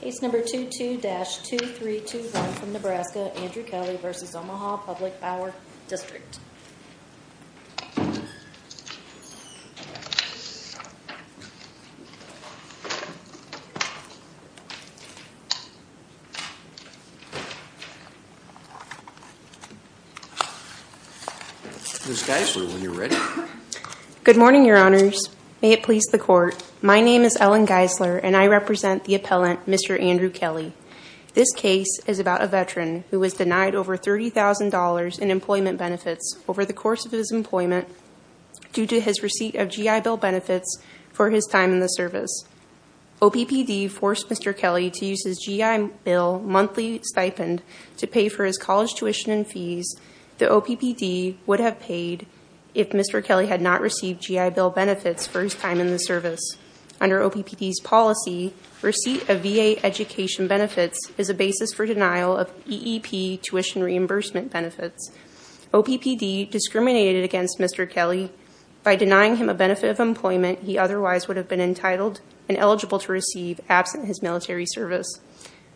Case number 22-2321 from Nebraska, Andrew Kelly v. Omaha Public Power District Ms. Geisler, when you're ready. Good morning, your honors. May it please the court. My name is Ellen Geisler, and I represent the appellant, Mr. Andrew Kelly. This case is about a veteran who was denied over $30,000 in employment benefits over the course of his employment due to his receipt of GI Bill benefits for his time in the service. OPPD forced Mr. Kelly to use his GI Bill monthly stipend to pay for his college tuition and fees that OPPD would have paid if Mr. Kelly had not received GI Bill benefits for his time in the service. Under OPPD's policy, receipt of VA education benefits is a basis for denial of EEP tuition reimbursement benefits. OPPD discriminated against Mr. Kelly by denying him a benefit of employment he otherwise would have been entitled and eligible to receive absent his military service.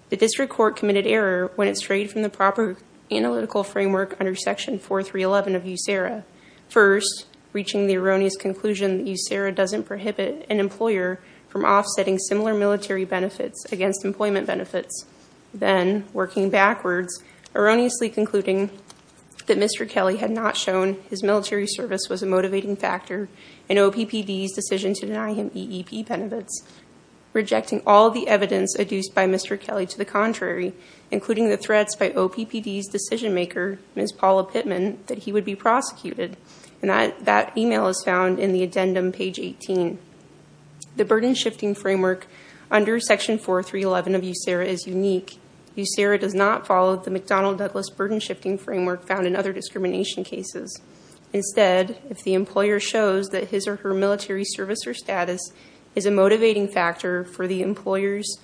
The district court committed error when it strayed from the proper analytical framework under Section 4311 of USERRA. First, reaching the erroneous conclusion that USERRA doesn't prohibit an employer from offsetting similar military benefits against employment benefits. Then, working backwards, erroneously concluding that Mr. Kelly had not shown his military service was a motivating factor in OPPD's decision to deny him EEP benefits, rejecting all the evidence adduced by Mr. Kelly to the contrary, including the threats by OPPD's decision-maker, Ms. Paula Pittman, that he would be prosecuted. That email is found in the addendum, page 18. The burden-shifting framework under Section 4311 of USERRA is unique. USERRA does not follow the McDonnell-Douglas burden-shifting framework found in other discrimination cases. Instead, if the employer shows that his or her military service or status is a motivating factor for the employer's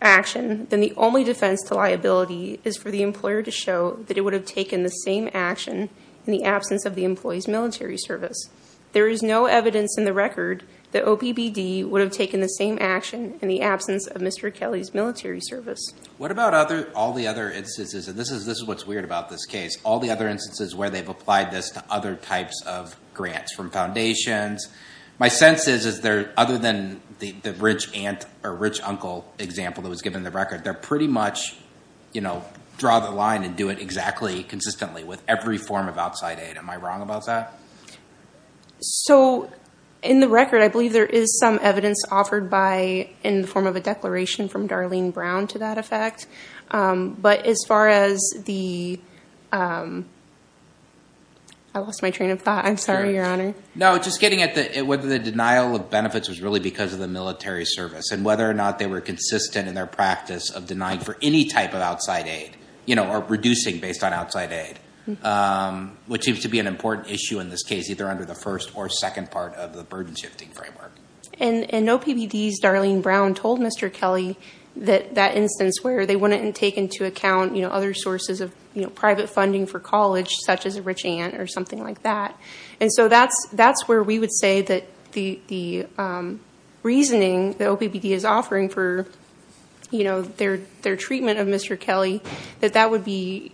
action, then the only defense to liability is for the employer to show that it would have taken the same action in the absence of the employee's military service. There is no evidence in the record that OPPD would have taken the same action in the absence of Mr. Kelly's military service. What about all the other instances, and this is what's weird about this case, all the other instances where they've applied this to other types of grants, from foundations? My sense is, other than the rich aunt or rich uncle example that was given in the record, they pretty much draw the line and do it exactly consistently with every form of outside aid. Am I wrong about that? So in the record, I believe there is some evidence offered in the form of a declaration from Darlene Brown to that effect. But as far as the—I lost my train of thought. I'm sorry, Your Honor. No, just getting at whether the denial of benefits was really because of the military service and whether or not they were consistent in their practice of denying for any type of outside aid or reducing based on outside aid, which seems to be an important issue in this case, either under the first or second part of the burden-shifting framework. And OPPD's Darlene Brown told Mr. Kelly that instance where they wouldn't take into account other sources of private funding for college, such as a rich aunt or something like that. And so that's where we would say that the reasoning that OPPD is offering for their treatment of Mr. Kelly, that that would be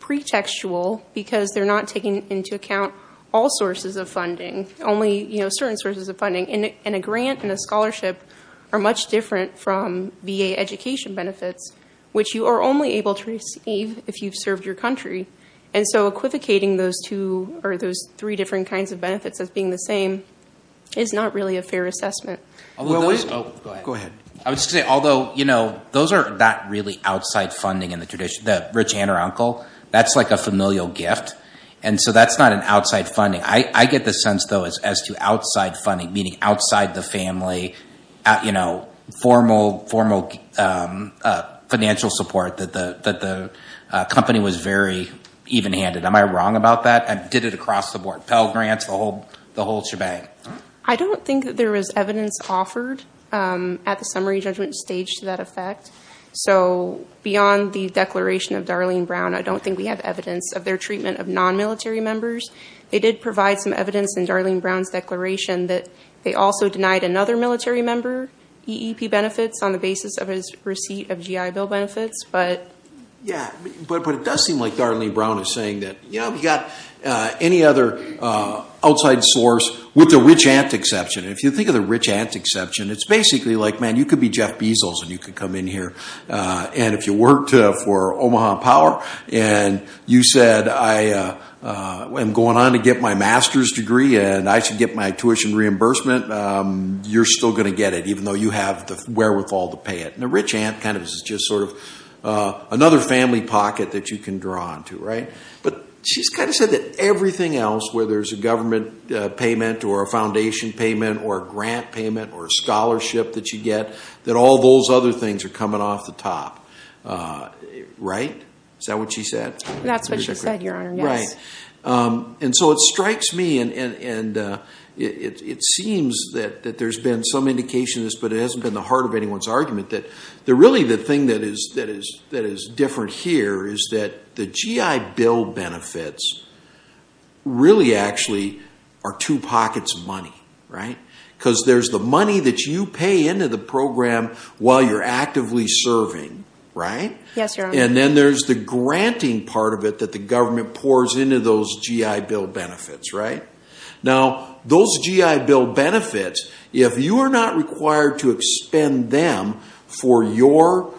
pretextual because they're not taking into account all sources of funding, only certain sources of funding. And a grant and a scholarship are much different from VA education benefits, which you are only able to receive if you've served your country. And so equivocating those two or those three different kinds of benefits as being the same is not really a fair assessment. Go ahead. I would say, although, you know, those are not really outside funding in the tradition. The rich aunt or uncle, that's like a familial gift. And so that's not an outside funding. I get the sense, though, as to outside funding, meaning outside the family, you know, formal financial support that the company was very even-handed. Am I wrong about that? I did it across the board. Pell grants, the whole shebang. I don't think that there was evidence offered at the summary judgment stage to that effect. So beyond the declaration of Darlene Brown, I don't think we have evidence of their treatment of non-military members. They did provide some evidence in Darlene Brown's declaration that they also denied another military member EEP benefits on the basis of his receipt of GI Bill benefits. Yeah, but it does seem like Darlene Brown is saying that, you know, we've got any other outside source with the rich aunt exception. If you think of the rich aunt exception, it's basically like, man, you could be Jeff Bezos and you could come in here. And if you worked for Omaha Power and you said, I am going on to get my master's degree and I should get my tuition reimbursement, you're still going to get it, even though you have the wherewithal to pay it. And the rich aunt kind of is just sort of another family pocket that you can draw onto, right? But she's kind of said that everything else, whether it's a government payment or a foundation payment or a grant payment or a scholarship that you get, that all those other things are coming off the top, right? Is that what she said? That's what she said, Your Honor, yes. Right. And so it strikes me and it seems that there's been some indication of this, but it hasn't been the heart of anyone's argument that really the thing that is different here is that the GI Bill benefits really actually are two pockets of money, right? Because there's the money that you pay into the program while you're actively serving, right? Yes, Your Honor. And then there's the granting part of it that the government pours into those GI Bill benefits, right? Now, those GI Bill benefits, if you are not required to expend them for your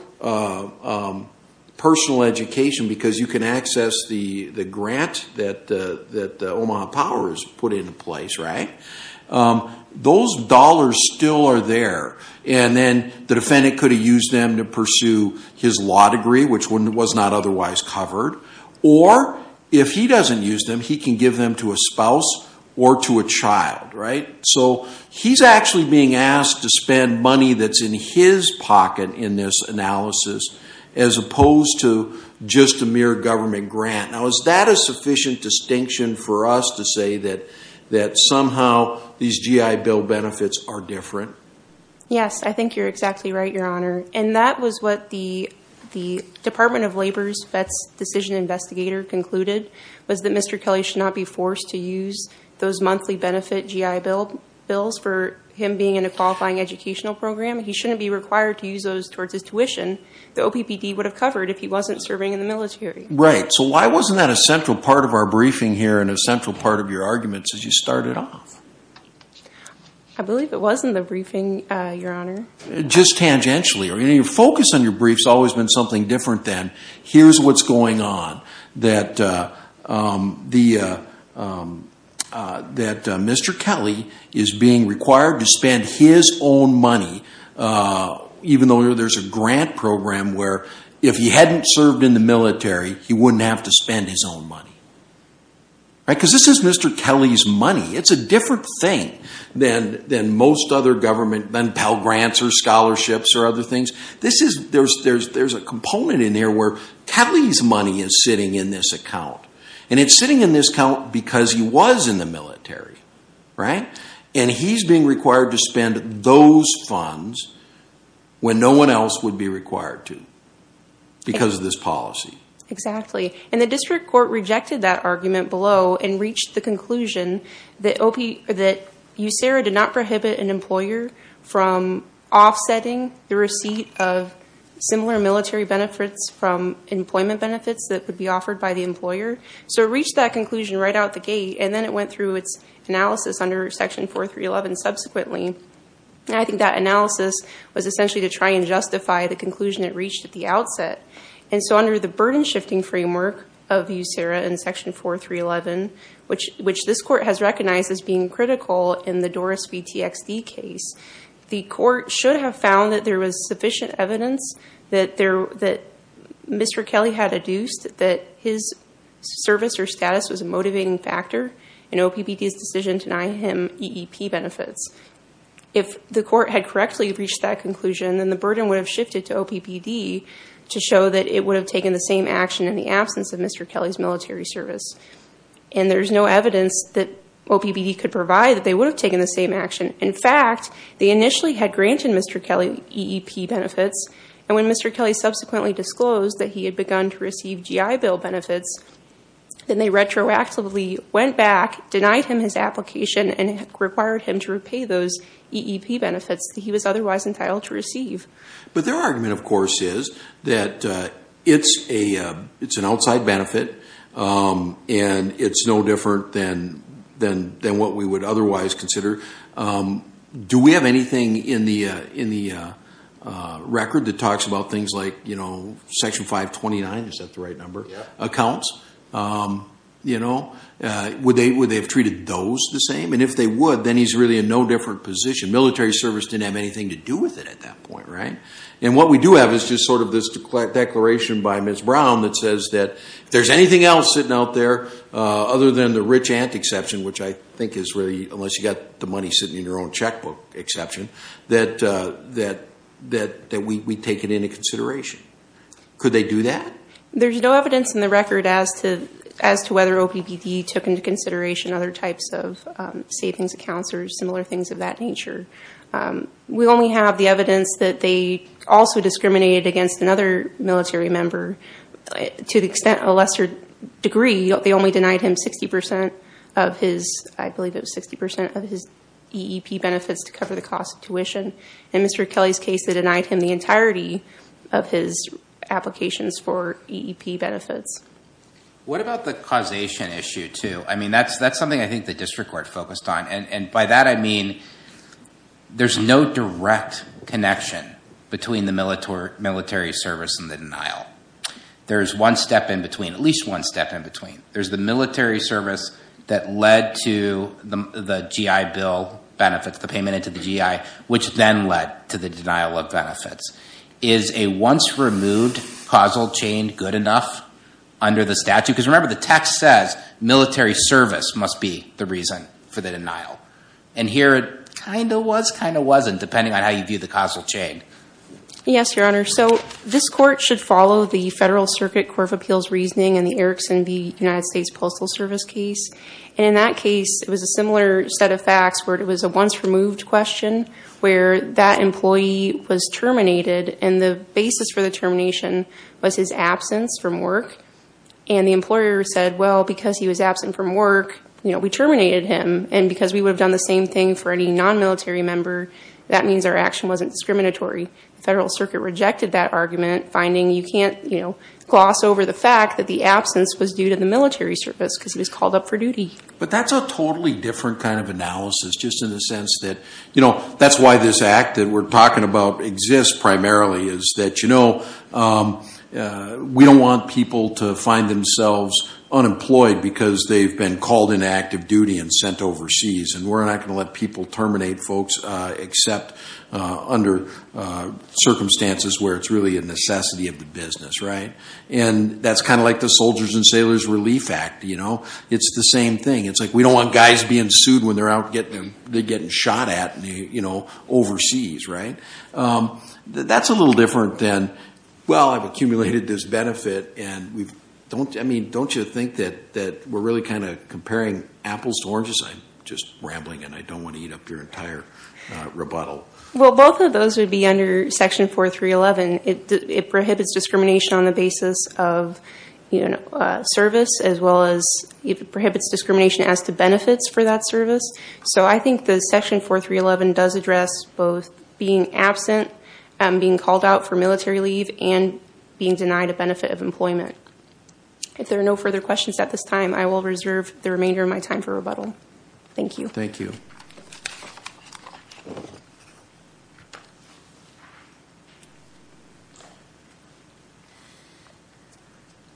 personal education because you can access the grant that Omaha Power has put into place, right? Those dollars still are there. And then the defendant could have used them to pursue his law degree, which was not otherwise covered. Or if he doesn't use them, he can give them to a spouse or to a child, right? So he's actually being asked to spend money that's in his pocket in this analysis as opposed to just a mere government grant. Now, is that a sufficient distinction for us to say that somehow these GI Bill benefits are different? Yes, I think you're exactly right, Your Honor. And that was what the Department of Labor's Vets Decision Investigator concluded was that Mr. Kelly should not be forced to use those monthly benefit GI Bills for him being in a qualifying educational program. He shouldn't be required to use those towards his tuition. The OPPD would have covered if he wasn't serving in the military. Right. So why wasn't that a central part of our briefing here and a central part of your arguments as you started off? I believe it was in the briefing, Your Honor. Just tangentially. Your focus on your briefs has always been something different than here's what's going on, that Mr. Kelly is being required to spend his own money, even though there's a grant program where if he hadn't served in the military, he wouldn't have to spend his own money. Right, because this is Mr. Kelly's money. It's a different thing than most other government, than Pell Grants or scholarships or other things. There's a component in there where Kelly's money is sitting in this account. And it's sitting in this account because he was in the military. Right. And he's being required to spend those funds when no one else would be required to because of this policy. Exactly. And the district court rejected that argument below and reached the conclusion that USERA did not prohibit an employer from offsetting the receipt of similar military benefits from employment benefits that would be offered by the employer. So it reached that conclusion right out the gate, and then it went through its analysis under Section 4311 subsequently. I think that analysis was essentially to try and justify the conclusion it reached at the outset. And so under the burden-shifting framework of USERA in Section 4311, which this court has recognized as being critical in the Doris v. TXD case, the court should have found that there was sufficient evidence that Mr. Kelly had adduced that his service or status was a motivating factor in OPPD's decision to deny him EEP benefits. If the court had correctly reached that conclusion, then the burden would have shifted to OPPD to show that it would have taken the same action in the absence of Mr. Kelly's military service. And there's no evidence that OPPD could provide that they would have taken the same action. In fact, they initially had granted Mr. Kelly EEP benefits, and when Mr. Kelly subsequently disclosed that he had begun to receive GI Bill benefits, then they retroactively went back, denied him his application, and required him to repay those EEP benefits that he was otherwise entitled to receive. But their argument, of course, is that it's an outside benefit, and it's no different than what we would otherwise consider. Do we have anything in the record that talks about things like Section 529? Is that the right number? Accounts. Would they have treated those the same? And if they would, then he's really in no different position. Military service didn't have anything to do with it at that point, right? And what we do have is just sort of this declaration by Ms. Brown that says that if there's anything else sitting out there other than the rich aunt exception, which I think is really unless you've got the money sitting in your own checkbook exception, that we take it into consideration. Could they do that? There's no evidence in the record as to whether OPPD took into consideration other types of savings accounts or similar things of that nature. We only have the evidence that they also discriminated against another military member to the extent, to a lesser degree, they only denied him 60 percent of his EEP benefits to cover the cost of tuition. In Mr. Kelly's case, they denied him the entirety of his applications for EEP benefits. What about the causation issue, too? I mean, that's something I think the district court focused on, and by that I mean there's no direct connection between the military service and the denial. There is one step in between, at least one step in between. There's the military service that led to the GI Bill benefits, the payment into the GI, which then led to the denial of benefits. Is a once-removed causal chain good enough under the statute? Because remember, the text says military service must be the reason for the denial, and here it kind of was, kind of wasn't, depending on how you view the causal chain. Yes, Your Honor. So this Court should follow the Federal Circuit Court of Appeals reasoning in the Erickson v. United States Postal Service case, and in that case, it was a similar set of facts where it was a once-removed question where that employee was terminated, and the basis for the termination was his absence from work, and the employer said, well, because he was absent from work, we terminated him, and because we would have done the same thing for any non-military member, that means our action wasn't discriminatory. The Federal Circuit rejected that argument, finding you can't gloss over the fact that the absence was due to the military service because he was called up for duty. But that's a totally different kind of analysis, just in the sense that, you know, that's why this act that we're talking about exists primarily, is that, you know, we don't want people to find themselves unemployed because they've been called into active duty and sent overseas, and we're not going to let people terminate folks except under circumstances where it's really a necessity of the business, right? And that's kind of like the Soldiers and Sailors Relief Act, you know? It's the same thing. It's like we don't want guys being sued when they're out getting shot at, you know, overseas, right? That's a little different than, well, I've accumulated this benefit, and I mean, don't you think that we're really kind of comparing apples to oranges? I'm just rambling, and I don't want to eat up your entire rebuttal. Well, both of those would be under Section 4311. It prohibits discrimination on the basis of service as well as it prohibits discrimination as to benefits for that service. So I think that Section 4311 does address both being absent, being called out for military leave, and being denied a benefit of employment. If there are no further questions at this time, I will reserve the remainder of my time for rebuttal. Thank you. Thank you.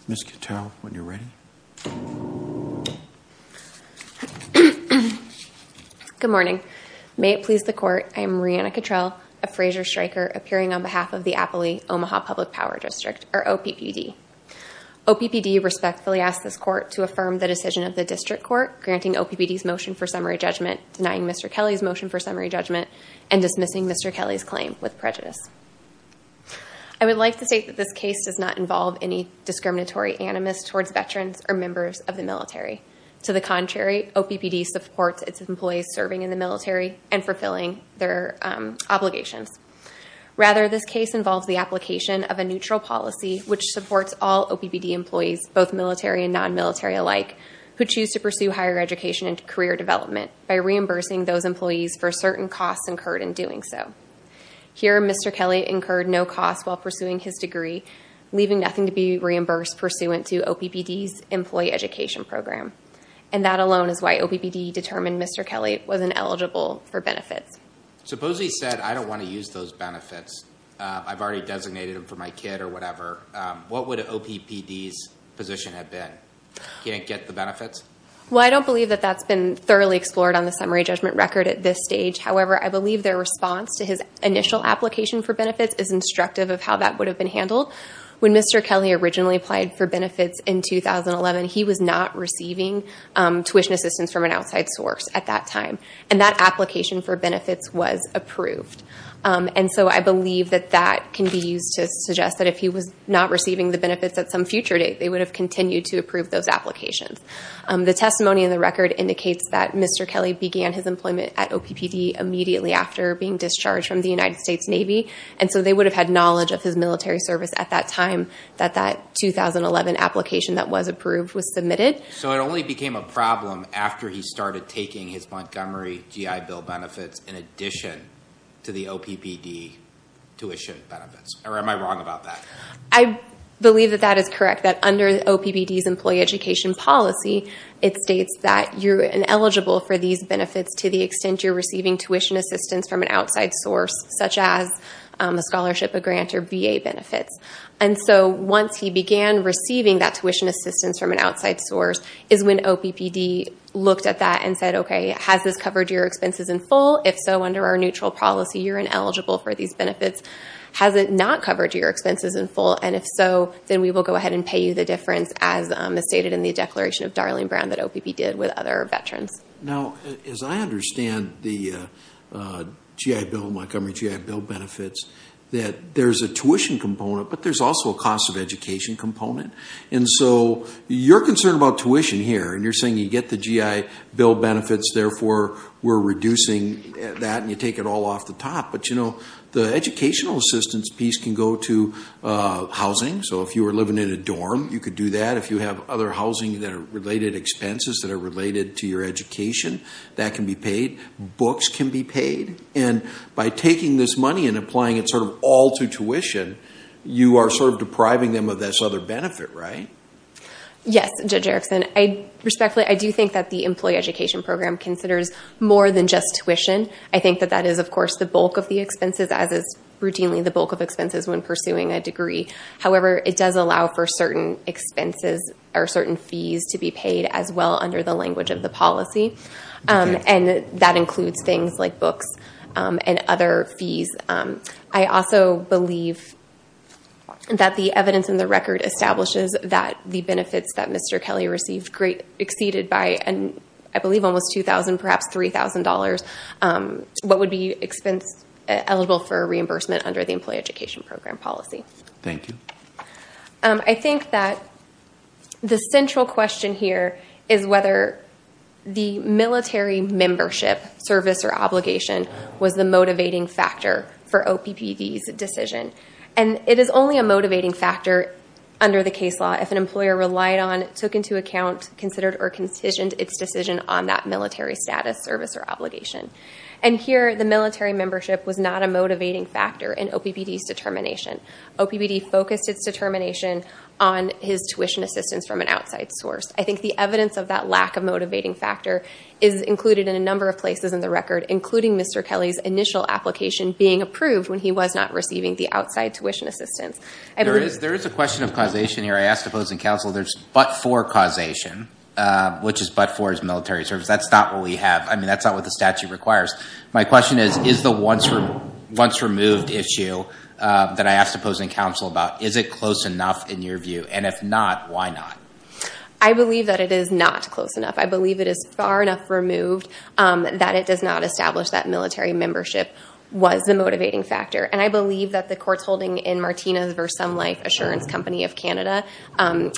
Ms. Cattell, when you're ready. Good morning. May it please the Court, I am Reanna Cattell, a Frasier Striker, appearing on behalf of the Appley Omaha Public Power District, or OPPD. OPPD respectfully asks this Court to affirm the decision of the District Court granting OPPD's motion for summary judgment, denying Mr. Kelly's motion for summary judgment, and dismissing Mr. Kelly's claim with prejudice. I would like to state that this case does not involve any discriminatory animus towards veterans or members of the military. To the contrary, OPPD supports its employees serving in the military and fulfilling their obligations. Rather, this case involves the application of a neutral policy which supports all OPPD employees, both military and non-military alike, who choose to pursue higher education and career development by reimbursing those employees for certain costs incurred in doing so. Here, Mr. Kelly incurred no costs while pursuing his degree, leaving nothing to be reimbursed pursuant to OPPD's employee education program. And that alone is why OPPD determined Mr. Kelly wasn't eligible for benefits. Suppose he said, I don't want to use those benefits. I've already designated them for my kid or whatever. What would OPPD's position have been? He didn't get the benefits? Well, I don't believe that that's been thoroughly explored on the summary judgment record at this stage. However, I believe their response to his initial application for benefits is instructive of how that would have been handled. When Mr. Kelly originally applied for benefits in 2011, he was not receiving tuition assistance from an outside source at that time, and that application for benefits was approved. And so I believe that that can be used to suggest that if he was not receiving the benefits at some future date, they would have continued to approve those applications. The testimony in the record indicates that Mr. Kelly began his employment at OPPD immediately after being discharged from the United States Navy, and so they would have had knowledge of his military service at that time that that 2011 application that was approved was submitted. So it only became a problem after he started taking his Montgomery GI Bill benefits in addition to the OPPD tuition benefits, or am I wrong about that? I believe that that is correct, that under OPPD's employee education policy, it states that you're ineligible for these benefits to the extent you're receiving tuition assistance from an outside source, such as a scholarship, a grant, or VA benefits. And so once he began receiving that tuition assistance from an outside source is when OPPD looked at that and said, OK, has this covered your expenses in full? If so, under our neutral policy, you're ineligible for these benefits. Has it not covered your expenses in full? And if so, then we will go ahead and pay you the difference as stated in the declaration of Darlene Brown that OPPD did with other veterans. Now, as I understand the Montgomery GI Bill benefits, that there's a tuition component, but there's also a cost of education component. And so you're concerned about tuition here, and you're saying you get the GI Bill benefits, therefore we're reducing that and you take it all off the top. But, you know, the educational assistance piece can go to housing. So if you were living in a dorm, you could do that. If you have other housing that are related expenses that are related to your education, that can be paid. Books can be paid. And by taking this money and applying it sort of all to tuition, you are sort of depriving them of this other benefit, right? Yes, Judge Erickson. Respectfully, I do think that the employee education program considers more than just tuition. I think that that is, of course, the bulk of the expenses, as is routinely the bulk of expenses when pursuing a degree. However, it does allow for certain expenses or certain fees to be paid as well under the language of the policy. And that includes things like books and other fees. I also believe that the evidence in the record establishes that the benefits that Mr. Kelly received exceeded by, I believe, almost $2,000, perhaps $3,000, what would be eligible for reimbursement under the employee education program policy. Thank you. I think that the central question here is whether the military membership service or obligation was the motivating factor for OPPV's decision. And it is only a motivating factor under the case law if an employer relied on, took into account, considered, or considered its decision on that military status, service, or obligation. And here, the military membership was not a motivating factor in OPPV's determination. OPPV focused its determination on his tuition assistance from an outside source. I think the evidence of that lack of motivating factor is included in a number of places in the record, including Mr. Kelly's initial application being approved when he was not receiving the outside tuition assistance. There is a question of causation here. I asked Opposing Counsel, there's but-for causation, which is but-for his military service. That's not what we have. I mean, that's not what the statute requires. My question is, is the once-removed issue that I asked Opposing Counsel about, is it close enough in your view? And if not, why not? I believe that it is not close enough. I believe it is far enough removed that it does not establish that military membership was the motivating factor. And I believe that the courts holding in Martinez v. Sun Life Assurance Company of Canada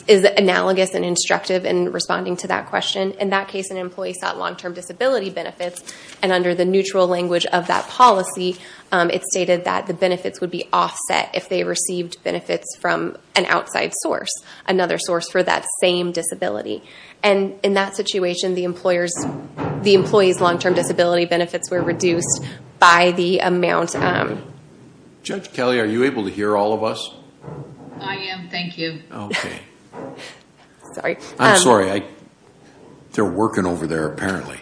is analogous and instructive in responding to that question. In that case, an employee sought long-term disability benefits, and under the neutral language of that policy, it stated that the benefits would be offset if they received benefits from an outside source, another source for that same disability. And in that situation, the employee's long-term disability benefits were reduced by the amount. Judge Kelly, are you able to hear all of us? I am. Thank you. Okay. I'm sorry. They're working over there apparently.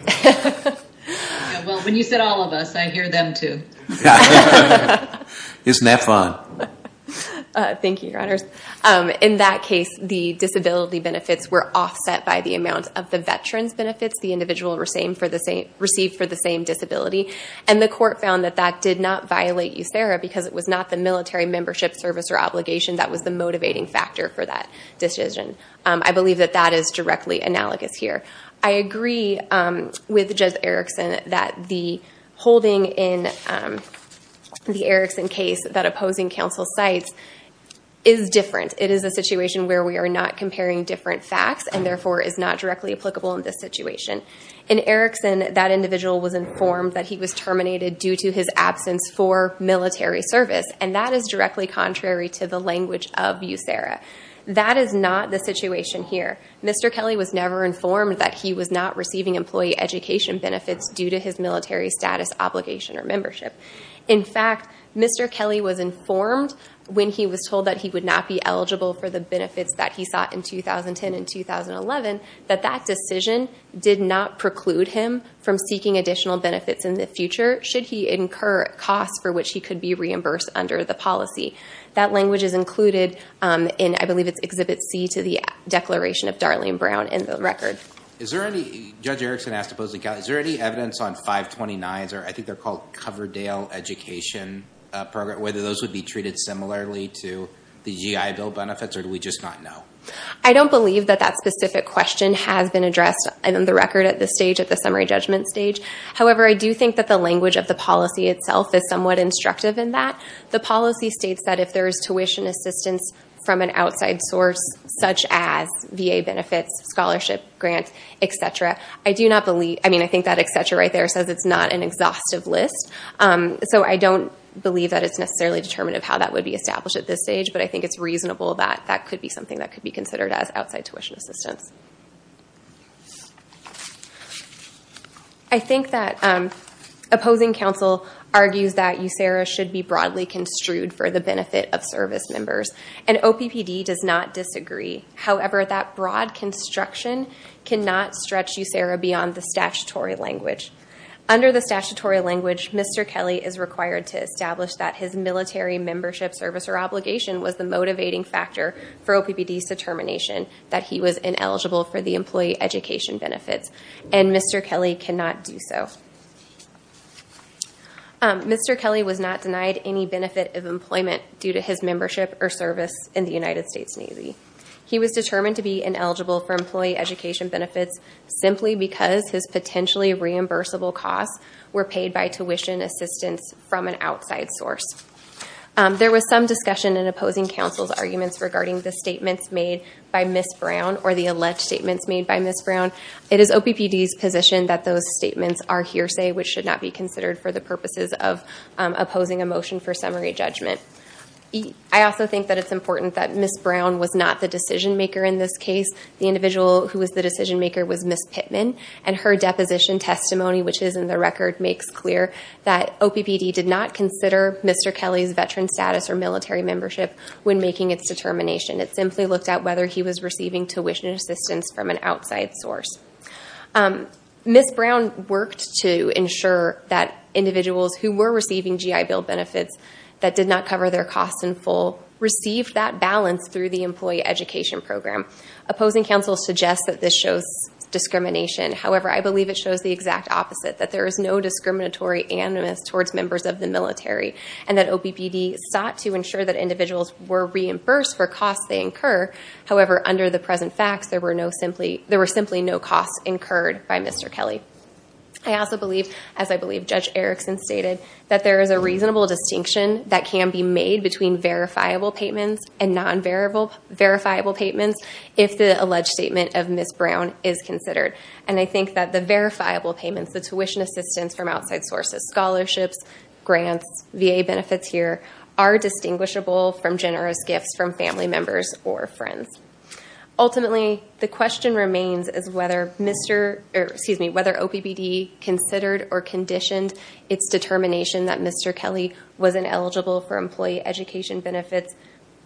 Well, when you said all of us, I hear them too. Isn't that fun? Thank you, Your Honors. In that case, the disability benefits were offset by the amount of the veteran's benefits the individual received for the same disability. And the court found that that did not violate USERRA because it was not the military membership service or obligation that was the motivating factor for that decision. I believe that that is directly analogous here. I agree with Judge Erickson that the holding in the Erickson case, that opposing counsel cites, is different. It is a situation where we are not comparing different facts and, therefore, is not directly applicable in this situation. In Erickson, that individual was informed that he was terminated due to his absence for military service, and that is directly contrary to the language of USERRA. That is not the situation here. Mr. Kelly was never informed that he was not receiving employee education benefits due to his military status, obligation, or membership. In fact, Mr. Kelly was informed when he was told that he would not be eligible for the benefits that he sought in 2010 and 2011 that that would not preclude him from seeking additional benefits in the future should he incur costs for which he could be reimbursed under the policy. That language is included in, I believe, it's Exhibit C to the Declaration of Darlene Brown in the record. Judge Erickson asked opposing counsel, is there any evidence on 529s, or I think they're called Coverdale Education Program, whether those would be treated similarly to the GI Bill benefits, or do we just not know? I don't believe that that specific question has been addressed in the record at this stage, at the summary judgment stage. However, I do think that the language of the policy itself is somewhat instructive in that. The policy states that if there is tuition assistance from an outside source, such as VA benefits, scholarship grants, et cetera, I do not believe, I mean, I think that et cetera right there says it's not an exhaustive list, so I don't believe that it's necessarily determinative how that would be established at this stage, but I think it's reasonable that that could be something that could be considered as outside tuition assistance. I think that opposing counsel argues that USERRA should be broadly construed for the benefit of service members, and OPPD does not disagree. However, that broad construction cannot stretch USERRA beyond the statutory language. Under the statutory language, Mr. Kelly is required to establish that his was ineligible for the employee education benefits, and Mr. Kelly cannot do so. Mr. Kelly was not denied any benefit of employment due to his membership or service in the United States Navy. He was determined to be ineligible for employee education benefits simply because his potentially reimbursable costs were paid by tuition assistance from an outside source. There was some discussion in opposing counsel's arguments regarding the statements made by Ms. Brown or the alleged statements made by Ms. Brown. It is OPPD's position that those statements are hearsay which should not be considered for the purposes of opposing a motion for summary judgment. I also think that it's important that Ms. Brown was not the decision maker in this case. The individual who was the decision maker was Ms. Pittman, and her deposition testimony, which is in the record, makes clear that OPPD did not consider Mr. Kelly's veteran status or military membership when making its determination. It simply looked at whether he was receiving tuition assistance from an outside source. Ms. Brown worked to ensure that individuals who were receiving GI Bill benefits that did not cover their costs in full received that balance through the employee education program. Opposing counsel suggests that this shows discrimination. However, I believe it shows the exact opposite, that there is no OPPD sought to ensure that individuals were reimbursed for costs they incur. However, under the present facts, there were simply no costs incurred by Mr. Kelly. I also believe, as I believe Judge Erickson stated, that there is a reasonable distinction that can be made between verifiable payments and non-verifiable payments if the alleged statement of Ms. Brown is considered. And I think that the verifiable payments, the tuition assistance from VA benefits here, are distinguishable from generous gifts from family members or friends. Ultimately, the question remains is whether Mr. or, excuse me, whether OPPD considered or conditioned its determination that Mr. Kelly was ineligible for employee education benefits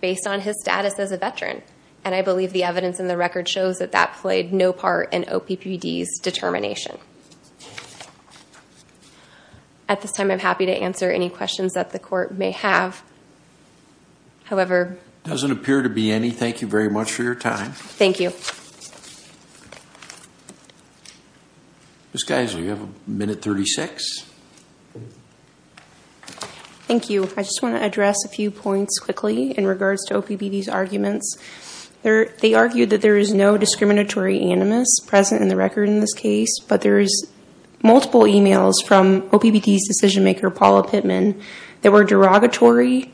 based on his status as a veteran. And I believe the evidence in the record shows that that played no part in OPPD's determination. At this time, I'm happy to answer any questions that the court may have. However... It doesn't appear to be any. Thank you very much for your time. Thank you. Ms. Geiser, you have a minute 36. Thank you. I just want to address a few points quickly in regards to OPPD's arguments. They argued that there is no discriminatory animus present in the case of Mr. Kelly. They argued that there is multiple e-mails from OPPD's decision maker Paula Pittman that were derogatory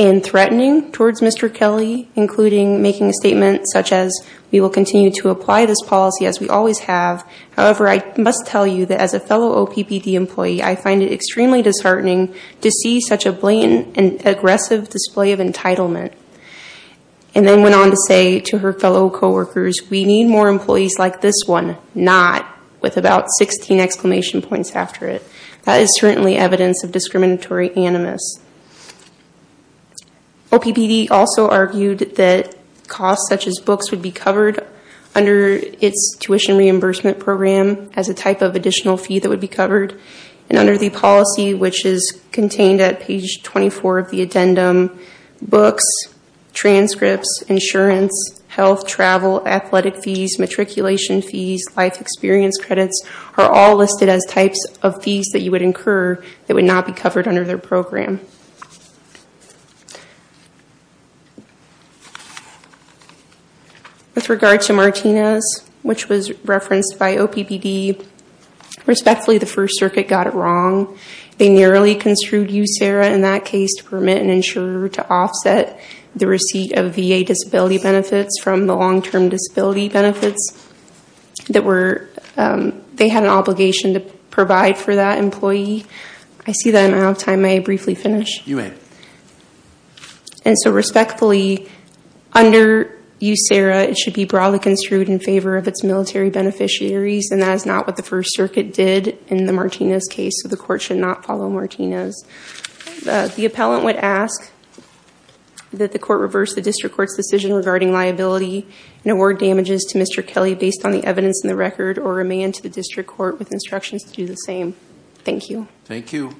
and threatening towards Mr. Kelly, including making a statement such as, we will continue to apply this policy as we always have. However, I must tell you that as a fellow OPPD employee, I find it extremely disheartening to see such a blatant and aggressive display of entitlement. And then went on to say to her fellow coworkers, we need more employees like this one. And she said, no, not, with about 16 exclamation points after it. That is certainly evidence of discriminatory animus. OPPD also argued that costs such as books would be covered under its tuition reimbursement program as a type of additional fee that would be covered. And under the policy, which is contained at page 24 of the addendum, books, transcripts, insurance, health, travel, athletic fees, matriculation fees, life experience credits are all listed as types of fees that you would incur that would not be covered under their program. With regard to Martinez, which was referenced by OPPD, respectfully, the First Circuit got it wrong. They narrowly construed USERRA in that case to permit an insurer to offset the receipt of VA disability benefits from the long-term disability benefits. They had an obligation to provide for that employee. I see that I'm out of time. May I briefly finish? You may. And so respectfully, under USERRA, it should be broadly construed in favor of its military beneficiaries. And that is not what the First Circuit did in the Martinez case. So the court should not follow Martinez. The appellant would ask that the court reverse the district court's decision regarding liability and award damages to Mr. Kelly based on the evidence in the record or remain to the district court with instructions to do the same. Thank you. Thank you.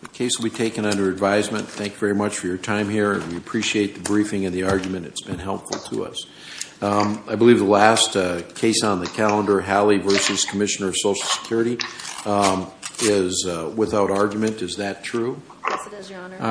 The case will be taken under advisement. Thank you very much for your time here. We appreciate the briefing and the argument. It's been helpful to us. I believe the last case on the calendar, Hallie v. Commissioner of Social Security, is without argument. Is that true? Yes, it is, Your Honor.